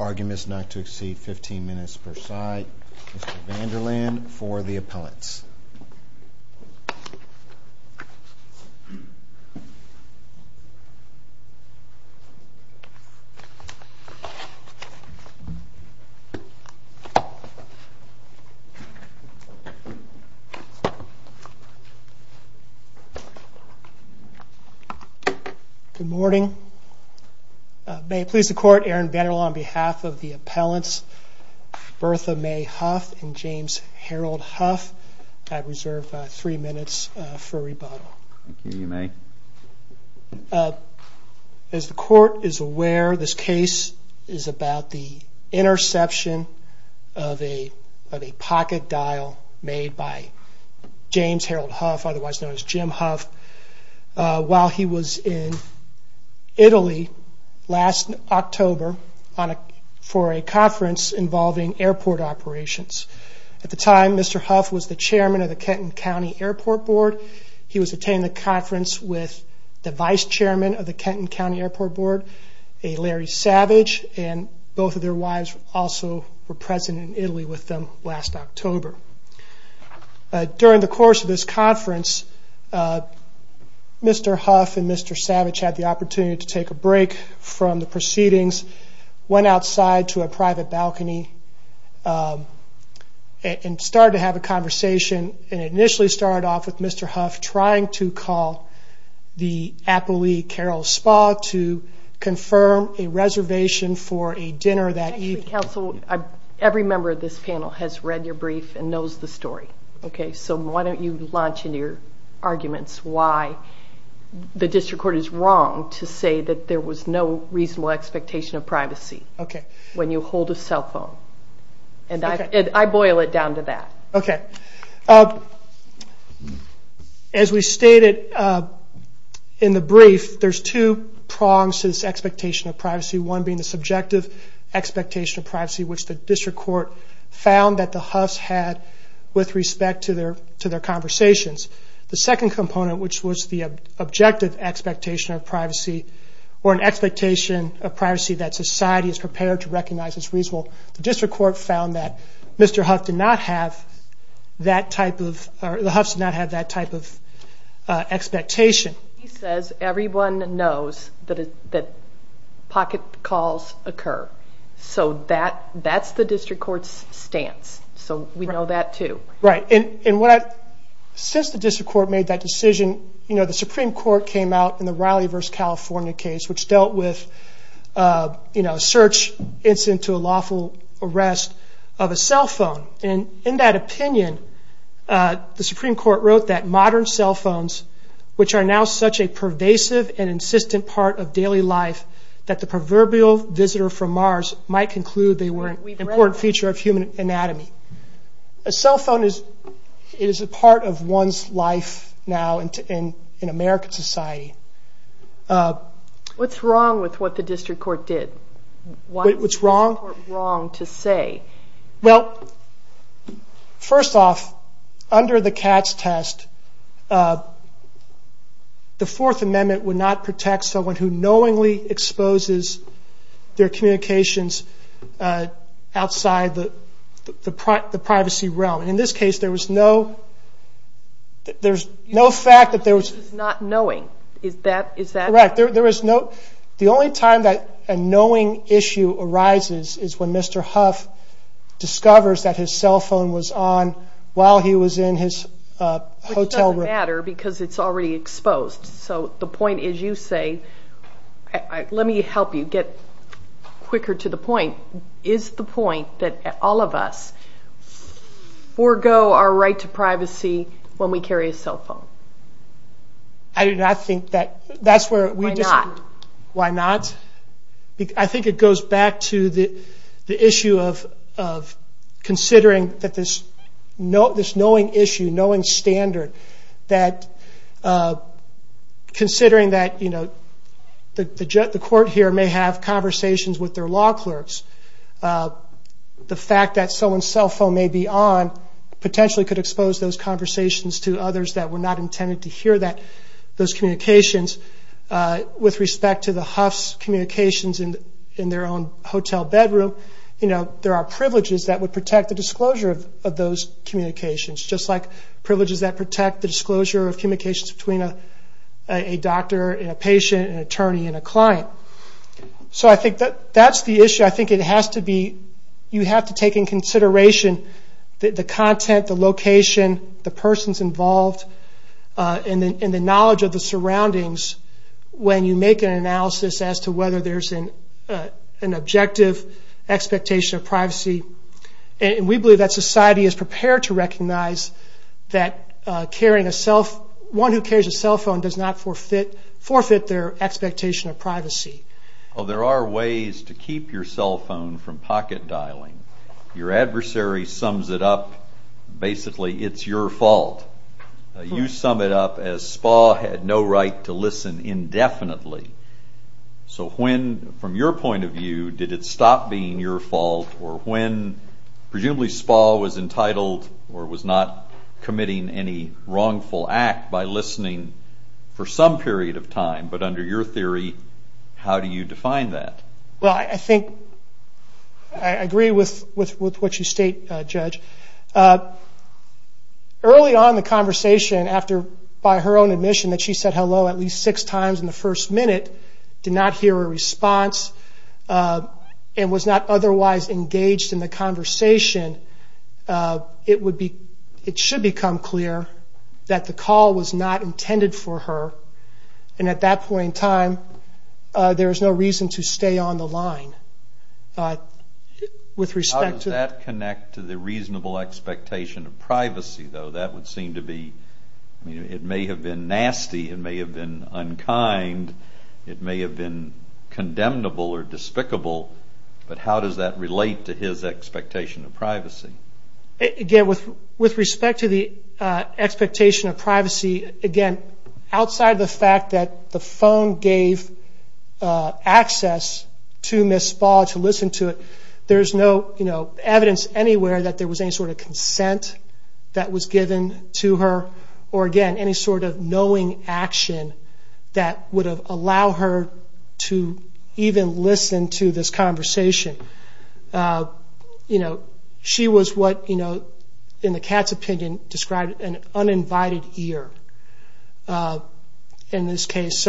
Arguments not to exceed 15 minutes per side. Mr. Vanderland for the appellates. Good morning. May it please the court, Aaron Vanderland on behalf of the appellants Bertha May Huff and James Harold Huff, I reserve three minutes for rebuttal. As the court is aware this case is about the interception of a pocket dial made by James Harold Huff, otherwise known as Jim Huff, while he was in Italy last October for a conference involving airport operations. At the time Mr. Huff was the chairman of the Kenton County Airport Board. He was attending the conference with the vice chairman of the Kenton County Airport Board, Larry Savage, and both of their wives were also present in Italy with them last October. During the course of this conference Mr. Huff and Mr. Savage had the opportunity to take a break from the proceedings, went outside to a private balcony and started to have a conversation. It initially started off with Mr. Huff trying to call the appellee Carol Spa to confirm a reservation for a dinner that evening. Every member of this panel has read your brief and knows the story, so why don't you launch into your arguments why the district court is wrong to say that there was no reasonable expectation of privacy when you hold a cell phone. I boil it down to that. As we stated in the brief, there are two prongs to this expectation of privacy. One being the subjective expectation of privacy which the district court found that the Huffs had with respect to their conversations. The second component which was the objective expectation of privacy or an expectation of privacy that society is prepared to recognize as reasonable, the district court found that Mr. Huff did not have that type of expectation. He says everyone knows that pocket calls occur, so that's the district court's stance, so we know that too. Since the district court made that decision, the Supreme Court came out in the Raleigh v. California case which dealt with a search incident to a lawful arrest of a cell phone. In that opinion, the Supreme Court wrote that modern cell phones which are now such a pervasive and insistent part of daily life that the proverbial visitor from Mars might conclude they were an important feature of human anatomy. A cell phone is a part of one's life now in American society. What's wrong with what the district court did? What's the district court wrong to say? Well, first off, under the Katz test, the Fourth Amendment would not protect someone who knowingly exposes their communications outside the privacy realm. In this case, there was no fact that there was no knowing. The only time that a knowing issue arises is when Mr. Huff discovers that his cell phone was on while he was in his hotel room. It doesn't matter because it's already exposed, so the point is you say, let me help you get quicker to the point. Is the point that all of us forgo our right to privacy when we carry a cell phone? Why not? I think it goes back to the issue of considering this knowing issue, knowing standard. Considering that the court here may have conversations with their law clerks, the fact that someone's cell phone may be on potentially could expose those conversations to others that were not intended to hear those communications. With respect to the Huff's communications in their own hotel bedroom, there are privileges that would protect the disclosure of communications between a doctor, a patient, an attorney, and a client. So I think that's the issue. I think it has to be, you have to take into consideration the content, the location, the persons involved, and the knowledge of the surroundings when you make an analysis as to whether there's an objective expectation of privacy. We believe that society is prepared to recognize that one who carries a cell phone does not forfeit their expectation of privacy. There are ways to keep your cell phone from pocket dialing. Your adversary sums it up, basically, it's your fault. You sum it up as SPA had no right to listen indefinitely. So when, from your point of view, did it stop being your fault, or when presumably SPA was entitled or was not committing any wrongful act by listening for some period of time, but under your theory, how do you define that? Well, I think I agree with what you state, Judge. Early on in the conversation, by her own admission that she said hello at least six times in the first minute, did not hear a response, and was not otherwise engaged in the conversation, it would be, it should become clear that the call was not intended for her, and at that point in time, there is no reason to stay on the line. How does that connect to the reasonable expectation of privacy, though? That would seem to be, it may have been nasty, it may have been unkind, it may have been condemnable or despicable, but how does that relate to his expectation of privacy? Again, with respect to the expectation of privacy, again, outside of the fact that the phone gave access to Ms. SPA to listen to it, there is no evidence anywhere that there was any sort of consent that was given to her, or again, any sort of knowing action that would have allowed her to even listen to this conversation. She was what, in the cat's opinion, described an uninvited ear in this case.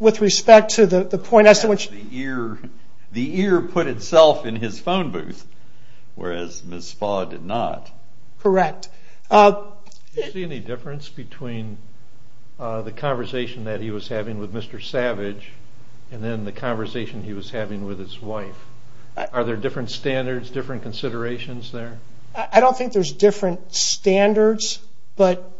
With respect to the point as to which... The ear put itself in his phone booth, whereas Ms. SPA did not. Correct. Do you see any difference between the conversation that he was having with Mr. Savage, and then the conversation he was having with his wife? Are there different standards, different considerations there? I don't think there's different standards, but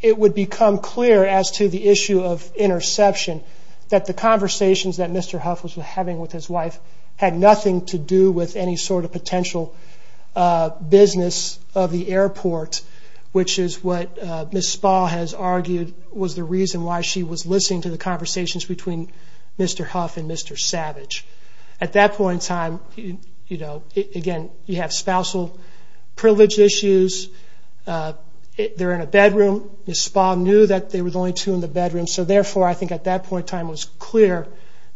it would become clear as to the issue of interception that the conversations that Mr. Huff was having with his wife had nothing to do with any sort of potential business of the airport, which is what Ms. SPA has argued was the reason why she was listening to the conversations between Mr. Huff and Mr. Savage. At that point in time, again, you have spousal privilege issues. They're in a bedroom. Ms. SPA knew that there were only two in the bedroom. Therefore, I think at that point in time it was clear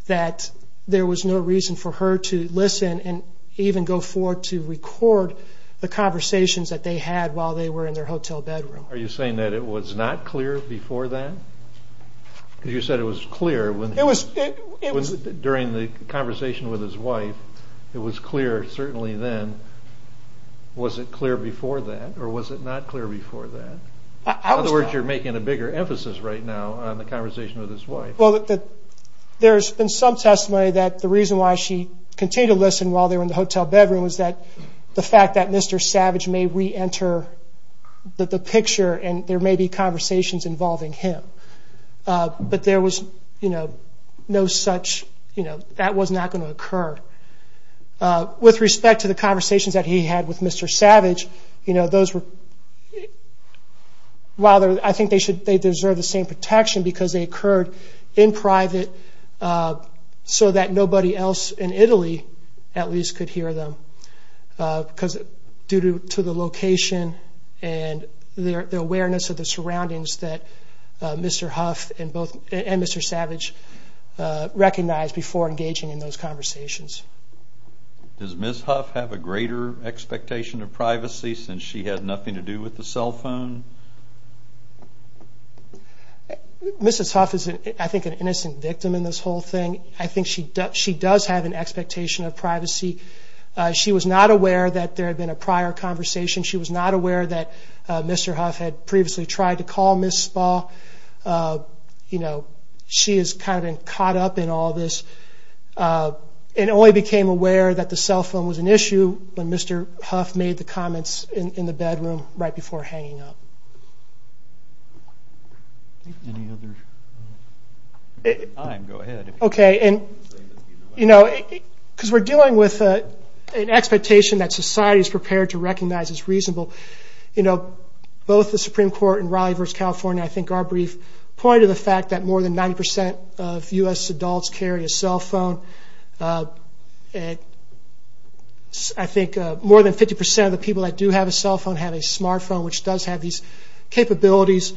that there was no reason for her to listen and even go forward to record the conversations that they had while they were in their hotel bedroom. Are you saying that it was not clear before that? You said it was clear during the conversation with his wife. It was clear certainly then. Was it clear before that, or was it not clear before that? In other words, you're making a bigger emphasis right now on the conversation with his wife. There's been some testimony that the reason why she continued to listen while they were in the hotel bedroom was the fact that Mr. Savage may re-enter the picture and there may be conversations involving him. That was not going to occur. With respect to the conversations that he had with Mr. Savage, I think they deserve the same protection because they occurred in private so that nobody else in Italy at least could hear them due to the location and the awareness of the surroundings that Mr. Huff and Mr. Savage recognized before engaging in those conversations. Does Ms. Huff have a greater expectation of privacy since she had nothing to do with the cell phone? Mrs. Huff is I think an innocent victim in this whole thing. I think she does have an expectation of privacy. She was not aware that there had been a prior conversation. She was not aware that Mr. Huff had previously tried to call Ms. Spa. She has kind of been up in all this and only became aware that the cell phone was an issue when Mr. Huff made the comments in the bedroom right before hanging up. We're dealing with an expectation that society is prepared to recognize as reasonable. Both the Supreme Court in Raleigh versus California, I think our brief pointed to the fact that more than 90% of U.S. adults carry a cell phone. I think more than 50% of the people that do have a cell phone have a smart phone which does have these capabilities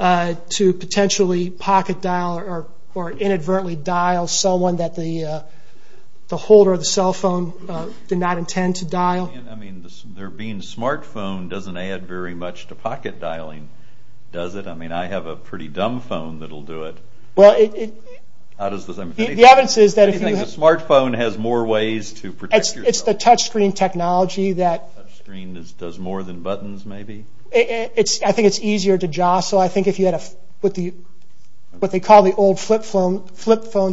to potentially pocket dial or inadvertently dial someone that the holder of the cell phone did not intend to dial. There being a smart phone doesn't add very much to pocket dialing, does it? I mean I have a pretty dumb phone that will do it. The evidence is that if you have a smart phone has more ways to protect your cell phone. It's the touch screen technology that does more than buttons maybe. I think it's easier to jostle. I think if you had what they call the old flip phones of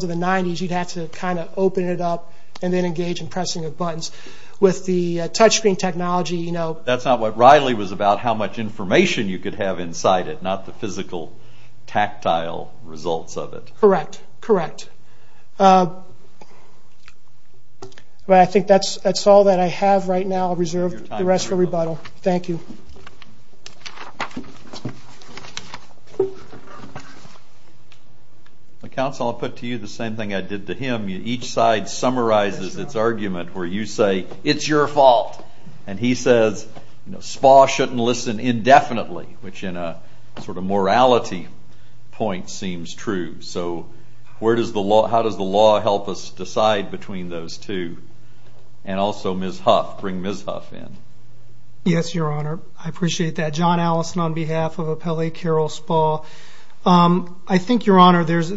the 90s, you'd have to kind of open it up and then engage in pressing of buttons. With the touch screen technology. That's not what Raleigh was about, how much information you could have inside it, not the physical tactile results of it. Correct. I think that's all that I have right now. I'll reserve the rest for rebuttal. Thank you. Counsel, I'll put to you the same thing I did to him. Each side summarizes its argument where you say, it's your fault. And he says, SPA shouldn't listen indefinitely, which in a sort of morality point seems true. So how does the law help us decide between those two? And also Ms. Huff, bring Ms. Huff in. Yes, your honor. I appreciate that. John Allison on behalf of Appellee Carol SPA. I think your argument is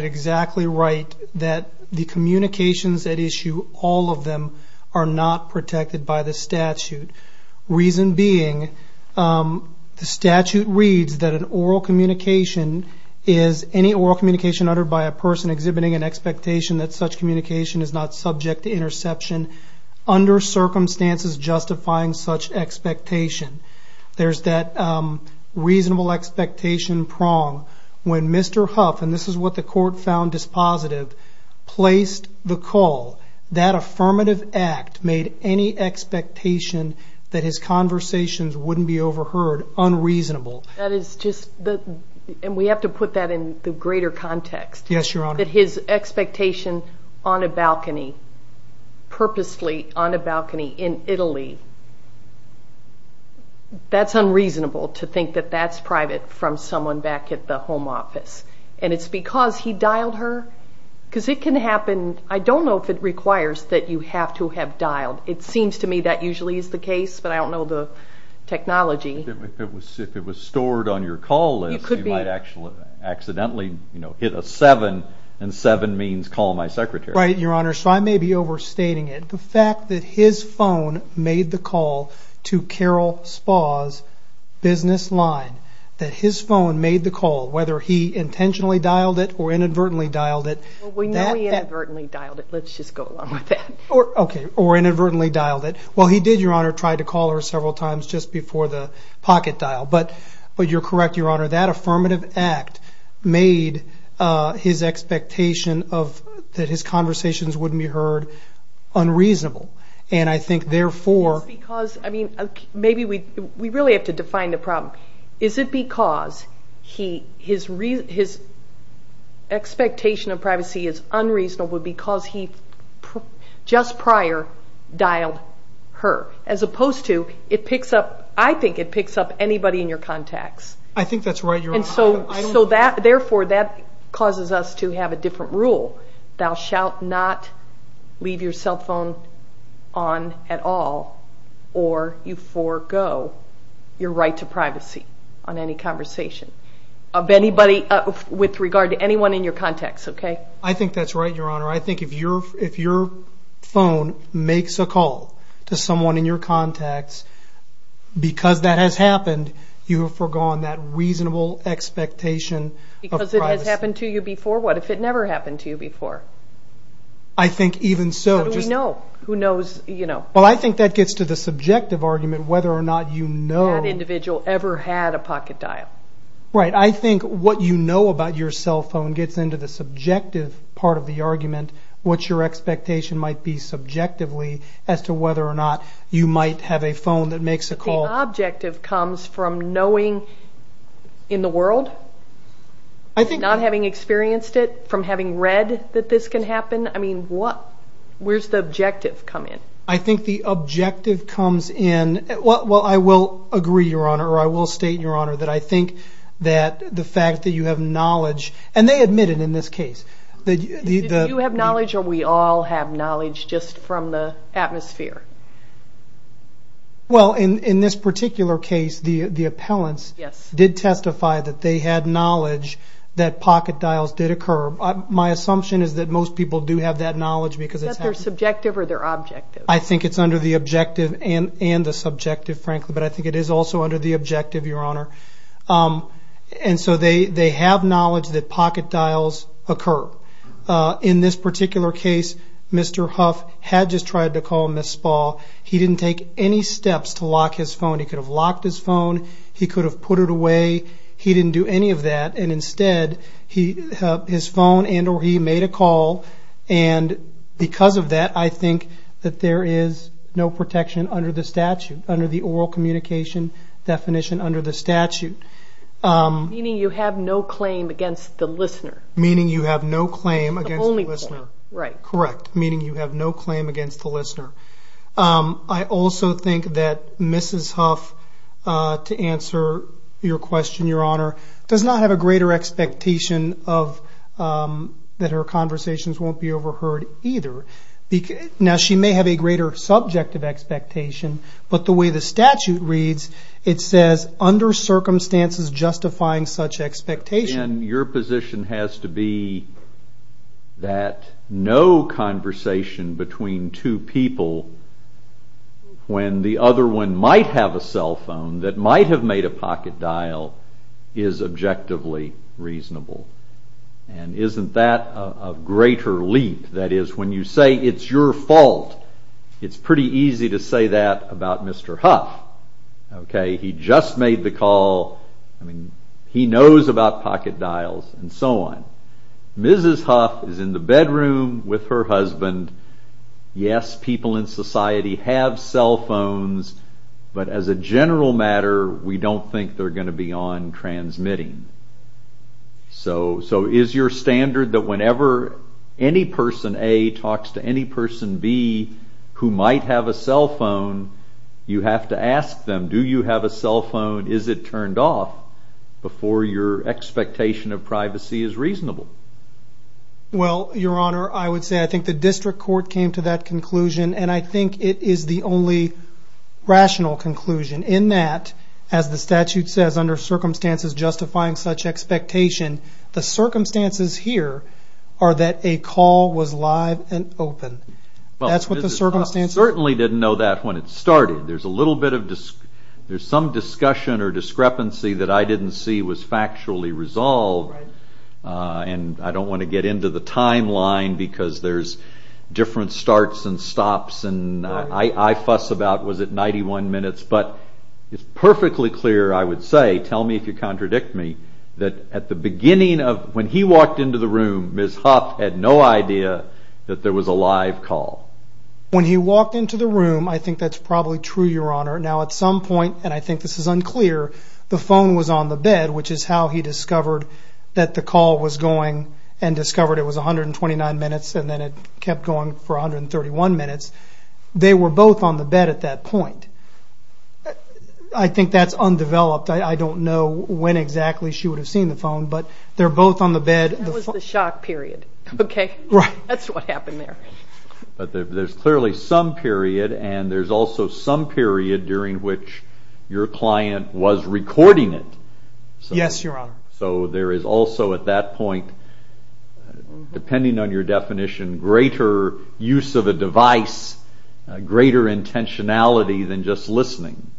exactly right. That the communications at issue, all of them, are not protected by the statute. Reason being, the statute reads that an oral communication is any oral communication uttered by a person exhibiting an expectation that such communication is not subject to interception under circumstances justifying such expectation. There's that reasonable expectation prong when Mr. Huff, and this is what the court found dispositive, placed the call. That affirmative act made any expectation that his conversations wouldn't be overheard unreasonable. That is just, and we have to put that in the greater context. Yes, your honor. That his expectation on a balcony, purposely on a balcony in Italy, that's unreasonable to think that that's private from someone back at the home office. And it's because he dialed her, because it can happen. I don't know if it requires that you have to have dialed. It seems to me that usually is the case, but I don't know the technology. If it was stored on your call list, you might actually accidentally hit a seven, and seven means call my secretary. Right, your honor. So I may be overstating it. The fact that his phone made the call to Carol Spaugh's business line, that his phone made the call, whether he intentionally dialed it or inadvertently dialed it. We know he inadvertently dialed it. Let's just go along with that. Okay, or inadvertently dialed it. Well, he did, your honor, try to call her several times just before the pocket dial. But you're correct, your honor. That affirmative act made his expectation that his conversations wouldn't be heard unreasonable. And I think therefore... Is it because, I mean, maybe we really have to define the problem. Is it because his expectation of privacy is unreasonable because he just prior dialed her? As opposed to, it picks up, I think it picks up anybody in your contacts. I think that's right, your honor. So therefore, that causes us to have a different rule. Thou shalt not leave your cell phone on at all or you forego your right to privacy on any conversation of anybody with regard to anyone in your contacts, okay? I think that's right, your honor. I think if your phone makes a call to someone in your contacts because that has happened, you have foregone that reasonable expectation of privacy. Because it has happened to you before? What if it never happened to you before? I think even so... How do we know? Who knows, you know? Well, I think that gets to the subjective argument whether or not you know... That individual ever had a pocket dial. Right. I think what you know about your cell phone gets into the subjective part of the argument, what your expectation might be subjectively as to whether or not you might have a phone that makes a call... But the objective comes from knowing in the world, not having experienced it, from having read that this can happen. I mean, where's the objective come in? I think the objective comes in... Well, I will agree, your honor, or I will state, your honor, that I think that the fact that you have knowledge... And they admit it in this case. Do you have knowledge or we all have knowledge just from the atmosphere? Well, in this particular case, the appellants did testify that they had knowledge that pocket dials occur. My assumption is that most people do have that knowledge because it's happened... Is that their subjective or their objective? I think it's under the objective and the subjective, frankly, but I think it is also under the objective, your honor. And so they have knowledge that pocket dials occur. In this particular case, Mr. Huff had just tried to call Ms. Spall. He didn't take any steps to lock his phone. He could have locked his phone. He could have put it away. He didn't do any of that. And instead, his phone and or he made a call. And because of that, I think that there is no protection under the statute, under the oral communication definition under the statute. Meaning you have no claim against the listener. Meaning you have no claim against the listener. The only claim, right. Correct. Meaning you have no claim against the listener. I also think that Mrs. Huff, to answer your question, your honor, does not have a greater expectation of that her conversations won't be overheard either. Now she may have a greater subjective expectation, but the way the statute reads, it says under circumstances justifying such expectation. And your position has to be that no conversation between two people when the other one might have a cell phone that might have made a pocket dial is objectively reasonable. And isn't that a greater leap? That is when you say it's your fault, it's pretty easy to say that about Mr. Huff. Okay. He just made the call. I mean, he knows about pocket dials and so on. Mrs. Huff is in the bedroom with her husband. Yes, people in society have cell phones, but as a general matter, we don't think they're going to be on transmitting. So is your standard that whenever any person A talks to any person B who might have a cell phone, you have to Well, your honor, I would say I think the district court came to that conclusion, and I think it is the only rational conclusion in that, as the statute says, under circumstances justifying such expectation, the circumstances here are that a call was live and open. That's what the circumstances are. I certainly didn't know that when it started. There's some discussion or discrepancy that I didn't see was factually resolved, and I don't want to get into the timeline because there's different starts and stops, and I fuss about was it 91 minutes, but it's perfectly clear, I would say, tell me if you contradict me, that at the beginning of when he walked into the room, Mrs. Huff had no idea that there was a live call. When he walked into the room, I think that's probably true, your honor. Now at some point, and I think this is unclear, the phone was on the bed, which is how he discovered that the call was going, and discovered it was 129 minutes, and then it kept going for 131 minutes. They were both on the bed at that point. I think that's undeveloped. I don't know when exactly she would have seen the phone, but they're both on the bed. That was the shock period. Right. That's what happened there. There's clearly some period, and there's also some period during which your client was recording it. Yes, your honor. There is also at that point, depending on your definition, greater use of a device, greater intentionality than just listening.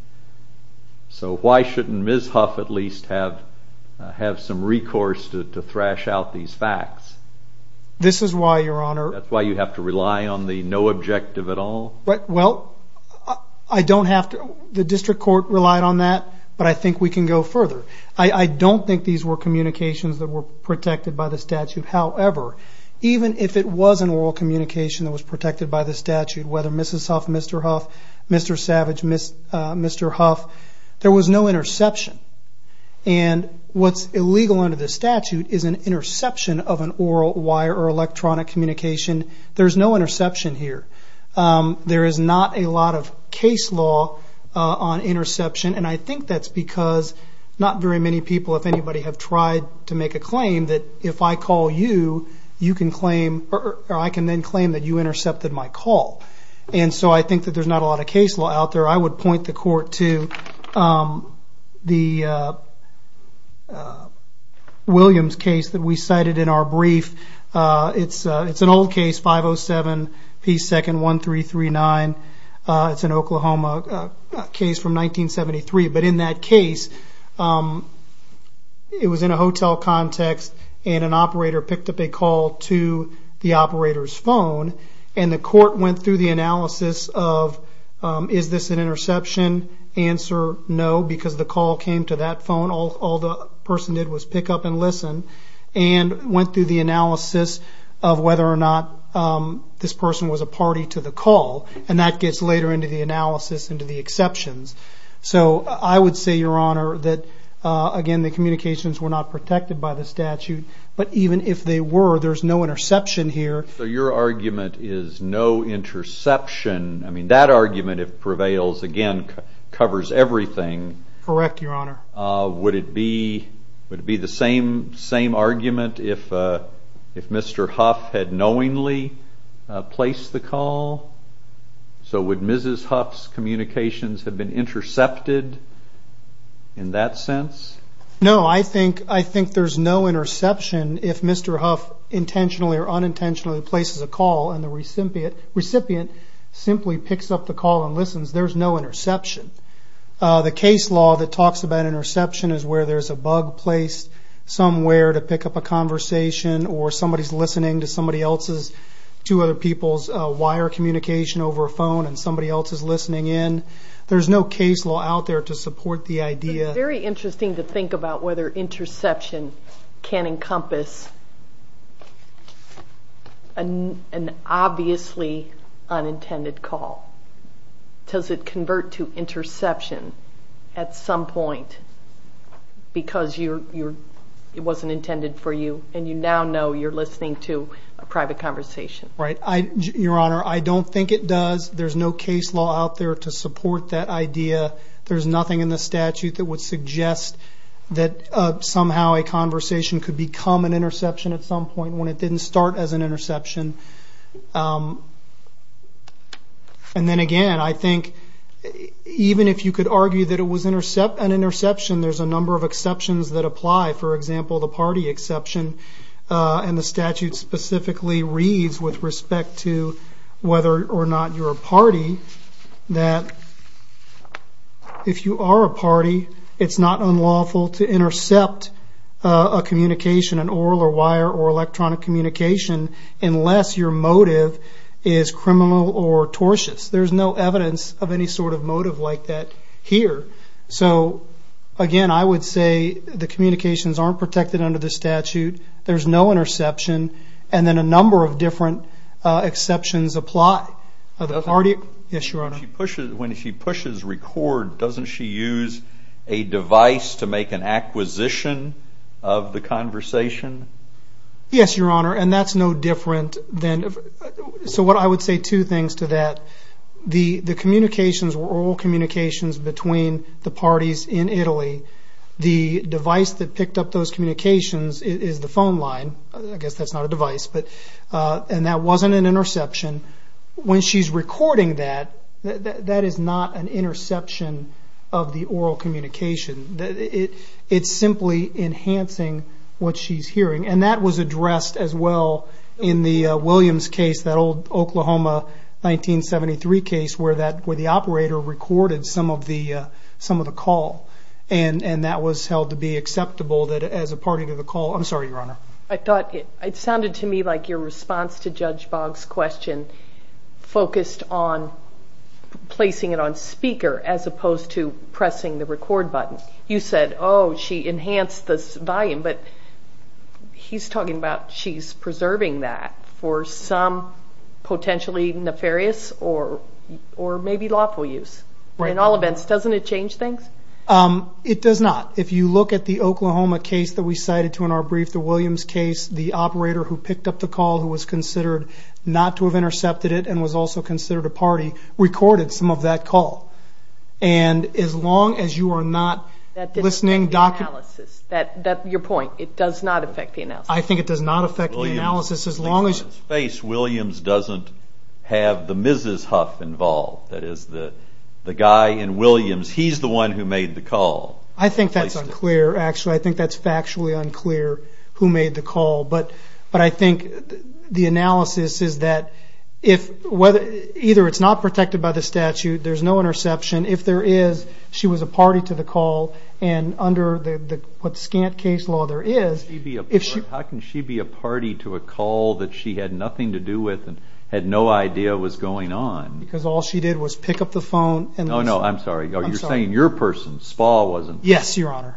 Why shouldn't Ms. Huff at least have some recourse to thrash out these facts? This is why, your honor. That's why you have to rely on the no objective at all? Well, the district court relied on that, but I think we can go further. I don't think these were communications that were protected by the statute. However, even if it was an oral communication that was protected by the statute, whether Mrs. Huff, Mr. Huff, Mr. Savage, Mr. Huff, there was no interception. What's illegal under the statute is an interception of an interception. There's no interception here. There is not a lot of case law on interception, and I think that's because not very many people, if anybody, have tried to make a claim that if I call you, you can claim, or I can then claim that you intercepted my call. I think that there's not a lot of case law out there. I would point the court to the Williams case that we cited in our brief. It's an old case, 507 P. 2nd 1339. It's an Oklahoma case from 1973, but in that case, it was in a hotel context, and an operator picked up a call to the operator's phone, and the court went through the analysis of is this an interception? Answer, no, because the call came to that phone. All the person did was pick up and listen, and went through the analysis of whether or not this person was a party to the call, and that gets later into the analysis into the exceptions. I would say, Your Honor, that again, the communications were not protected by the statute, but even if they were, there's no interception here. Your argument is no interception. That argument, if prevails, again, covers everything. Correct, Your Honor. Would it be the same argument if Mr. Huff had knowingly placed the call? Would Mrs. Huff's communications have been intercepted in that sense? No, I think there's no interception if Mr. Huff intentionally or unintentionally places a call, and the recipient simply picks up the call and listens. There's no interception. The case law that talks about interception is where there's a bug placed somewhere to pick up a conversation, or somebody's listening to somebody else's, two other people's wire communication over a phone, and somebody else is listening in. There's no case law out there to support the idea. But it's very interesting to think about whether interception can encompass an obviously unintended call. Does it convert to interception at some point because it wasn't intended for you, and you now know you're listening to a private conversation? Right. Your Honor, I don't think it does. There's no case law out there to support that idea. There's nothing in the statute that would suggest that somehow a conversation could become an interception at some point when it didn't start as an interception. And then again, I think even if you could argue that it was an interception, there's a number of exceptions that apply. For example, the party exception, and the statute specifically reads with respect to whether or not you're a party, that if you are a party, it's not unlawful to intercept a communication, an oral or wire or electronic communication, unless your motive is criminal or tortious. There's no evidence of any sort of motive like that here. So again, I would say the communications aren't protected under the statute, there's no interception, and then a number of different exceptions apply. When she pushes record, doesn't she use a device to make an acquisition of the conversation? Yes, Your Honor, and that's no different than... So I would say two things to that. The communications were oral communications between the parties in Italy. The device that picked up those communications is the phone line, I guess that's not a device, and that when she's recording that, that is not an interception of the oral communication. It's simply enhancing what she's hearing, and that was addressed as well in the Williams case, that old Oklahoma 1973 case where the operator recorded some of the call, and that was held to be acceptable as a party to the call. I'm sorry, Your Honor. I thought it sounded to me like your response to Judge Boggs' question focused on placing it on speaker as opposed to pressing the record button. You said, oh, she enhanced the volume, but he's talking about she's preserving that for some potentially nefarious or maybe lawful use. In all events, doesn't it change things? It does not. If you look at the Oklahoma case that we cited to in our brief, the Williams case, the operator who picked up the call, who was considered not to have intercepted it and was also considered a party, recorded some of that call. And as long as you are not listening... That doesn't affect the analysis. Your point, it does not affect the analysis. I think it does not affect the analysis as long as... Williams' face, Williams doesn't have the Mrs. Huff involved. That is, the guy in Williams, he's the one who made the call. I think that's unclear, actually. I think that's factually unclear, who made the call. But I think the analysis is that either it's not protected by the statute, there's no interception. If there is, she was a party to the call. And under what scant case law there is... How can she be a party to a call that she had nothing to do with and had no idea was going on? Because all she did was pick up the phone and listen. No, no, I'm sorry. You're saying your person, Spa, wasn't... Yes, Your Honor.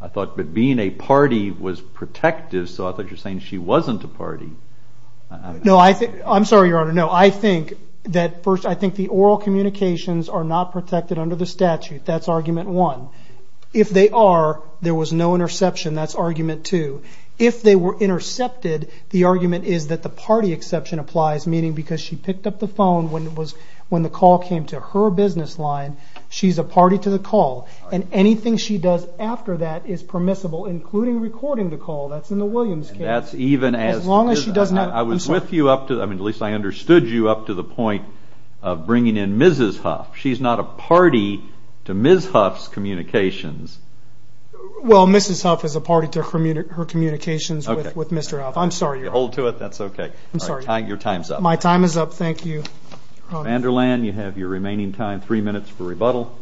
I thought being a party was protective, so I thought you were saying she wasn't a party. No, I'm sorry, Your Honor. No, I think the oral communications are not protected under the statute. That's argument one. If they are, there was no interception. That's argument two. If they were intercepted, the argument is that the party exception applies, meaning because she picked up the phone when the call came to her business line, she's a party to the call. And anything she does after that is permissible, including recording the call. That's in the Williams case. That's even as... As long as she does not... I was with you up to, at least I understood you up to the point of bringing in Mrs. Huff. She's not a party to Ms. Huff's communications. Well, Mrs. Huff is a party to her communications with Mr. Huff. I'm sorry, Your Honor. Hold to it, that's okay. I'm sorry. Your time's up. My time is up. Thank you, Your Honor. Commander Land, you have your remaining time, three minutes for rebuttal.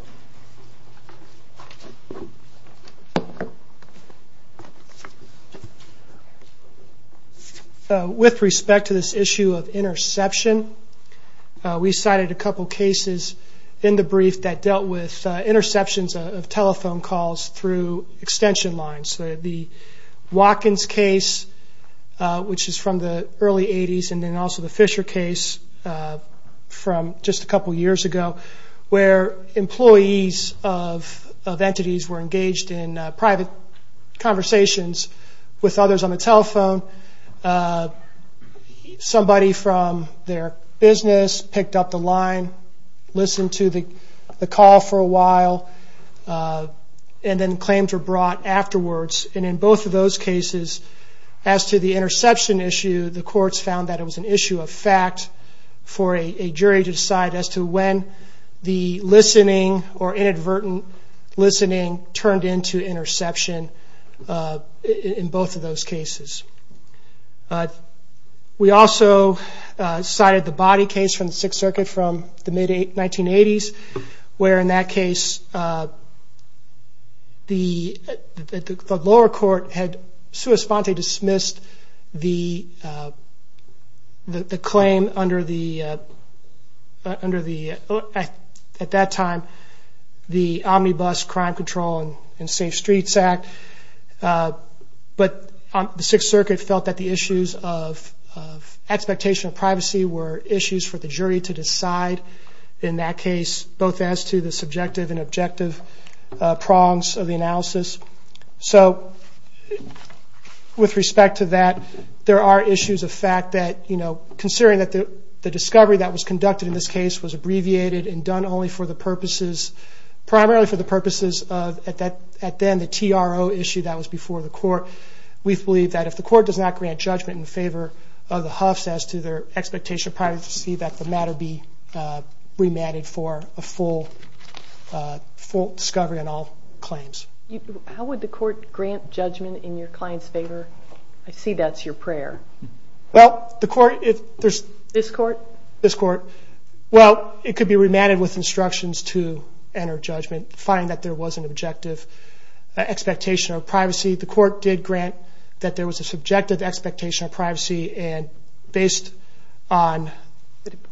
With respect to this issue of interception, we cited a couple cases in the brief that dealt with interceptions of telephone calls through extension lines. The Watkins case, which is from the early 80s, and then also the Fisher case from just a couple years ago, where employees of entities were engaged in private conversations with others on the telephone. Somebody from their business picked up the line, listened to the call for a while, and then claims were brought afterwards. And in both of those cases, as to the interception issue, the courts found that it was an issue of fact for a jury to decide as to when the listening or inadvertent listening turned into interception in both of those cases. We also cited the body case from the Sixth Circuit from the mid-1980s, where, in that case, the lower court had sui sponte dismissed the claim under the, at that time, the Omnibus Crime Control and Safe Streets Act, but the Sixth Circuit felt that the issues of expectation of privacy were issues for the jury to decide in that case, both as to the subjective and objective prongs of the analysis. So, with respect to that, there are issues of fact that, you know, considering that the discovery that was conducted in this case was abbreviated and done only for the purposes, primarily for the purposes of, at then, the TRO issue that was before the court, we believe that if the court does not grant judgment in favor of the Huffs as to their expectation of privacy, that the matter be remanded for a full discovery on all claims. How would the court grant judgment in your client's favor? I see that's your prayer. Well, the court, if there's... This court? This court. Well, it could be remanded with instructions to enter judgment, find that there was an objective expectation of privacy. The court did grant that there was a subjective expectation of privacy, and based on...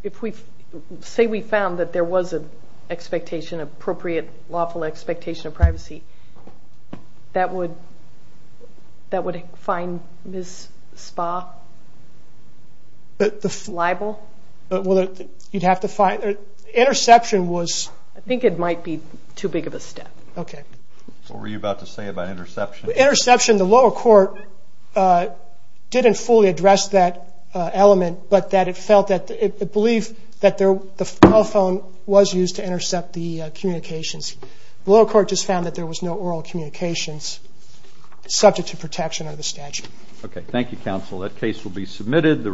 If we say we found that there was an expectation, appropriate lawful expectation of privacy, that would find Ms. Spa liable? Well, you'd have to find... Interception was... I think it might be too big of a step. Okay. What were you about to say about interception? Interception, the lower court didn't fully address that element, but that it felt that it believed that the telephone was used to intercept the communications. The lower court just found that there was no oral communications subject to protection under the statute. Okay. Thank you, counsel. That case will be submitted.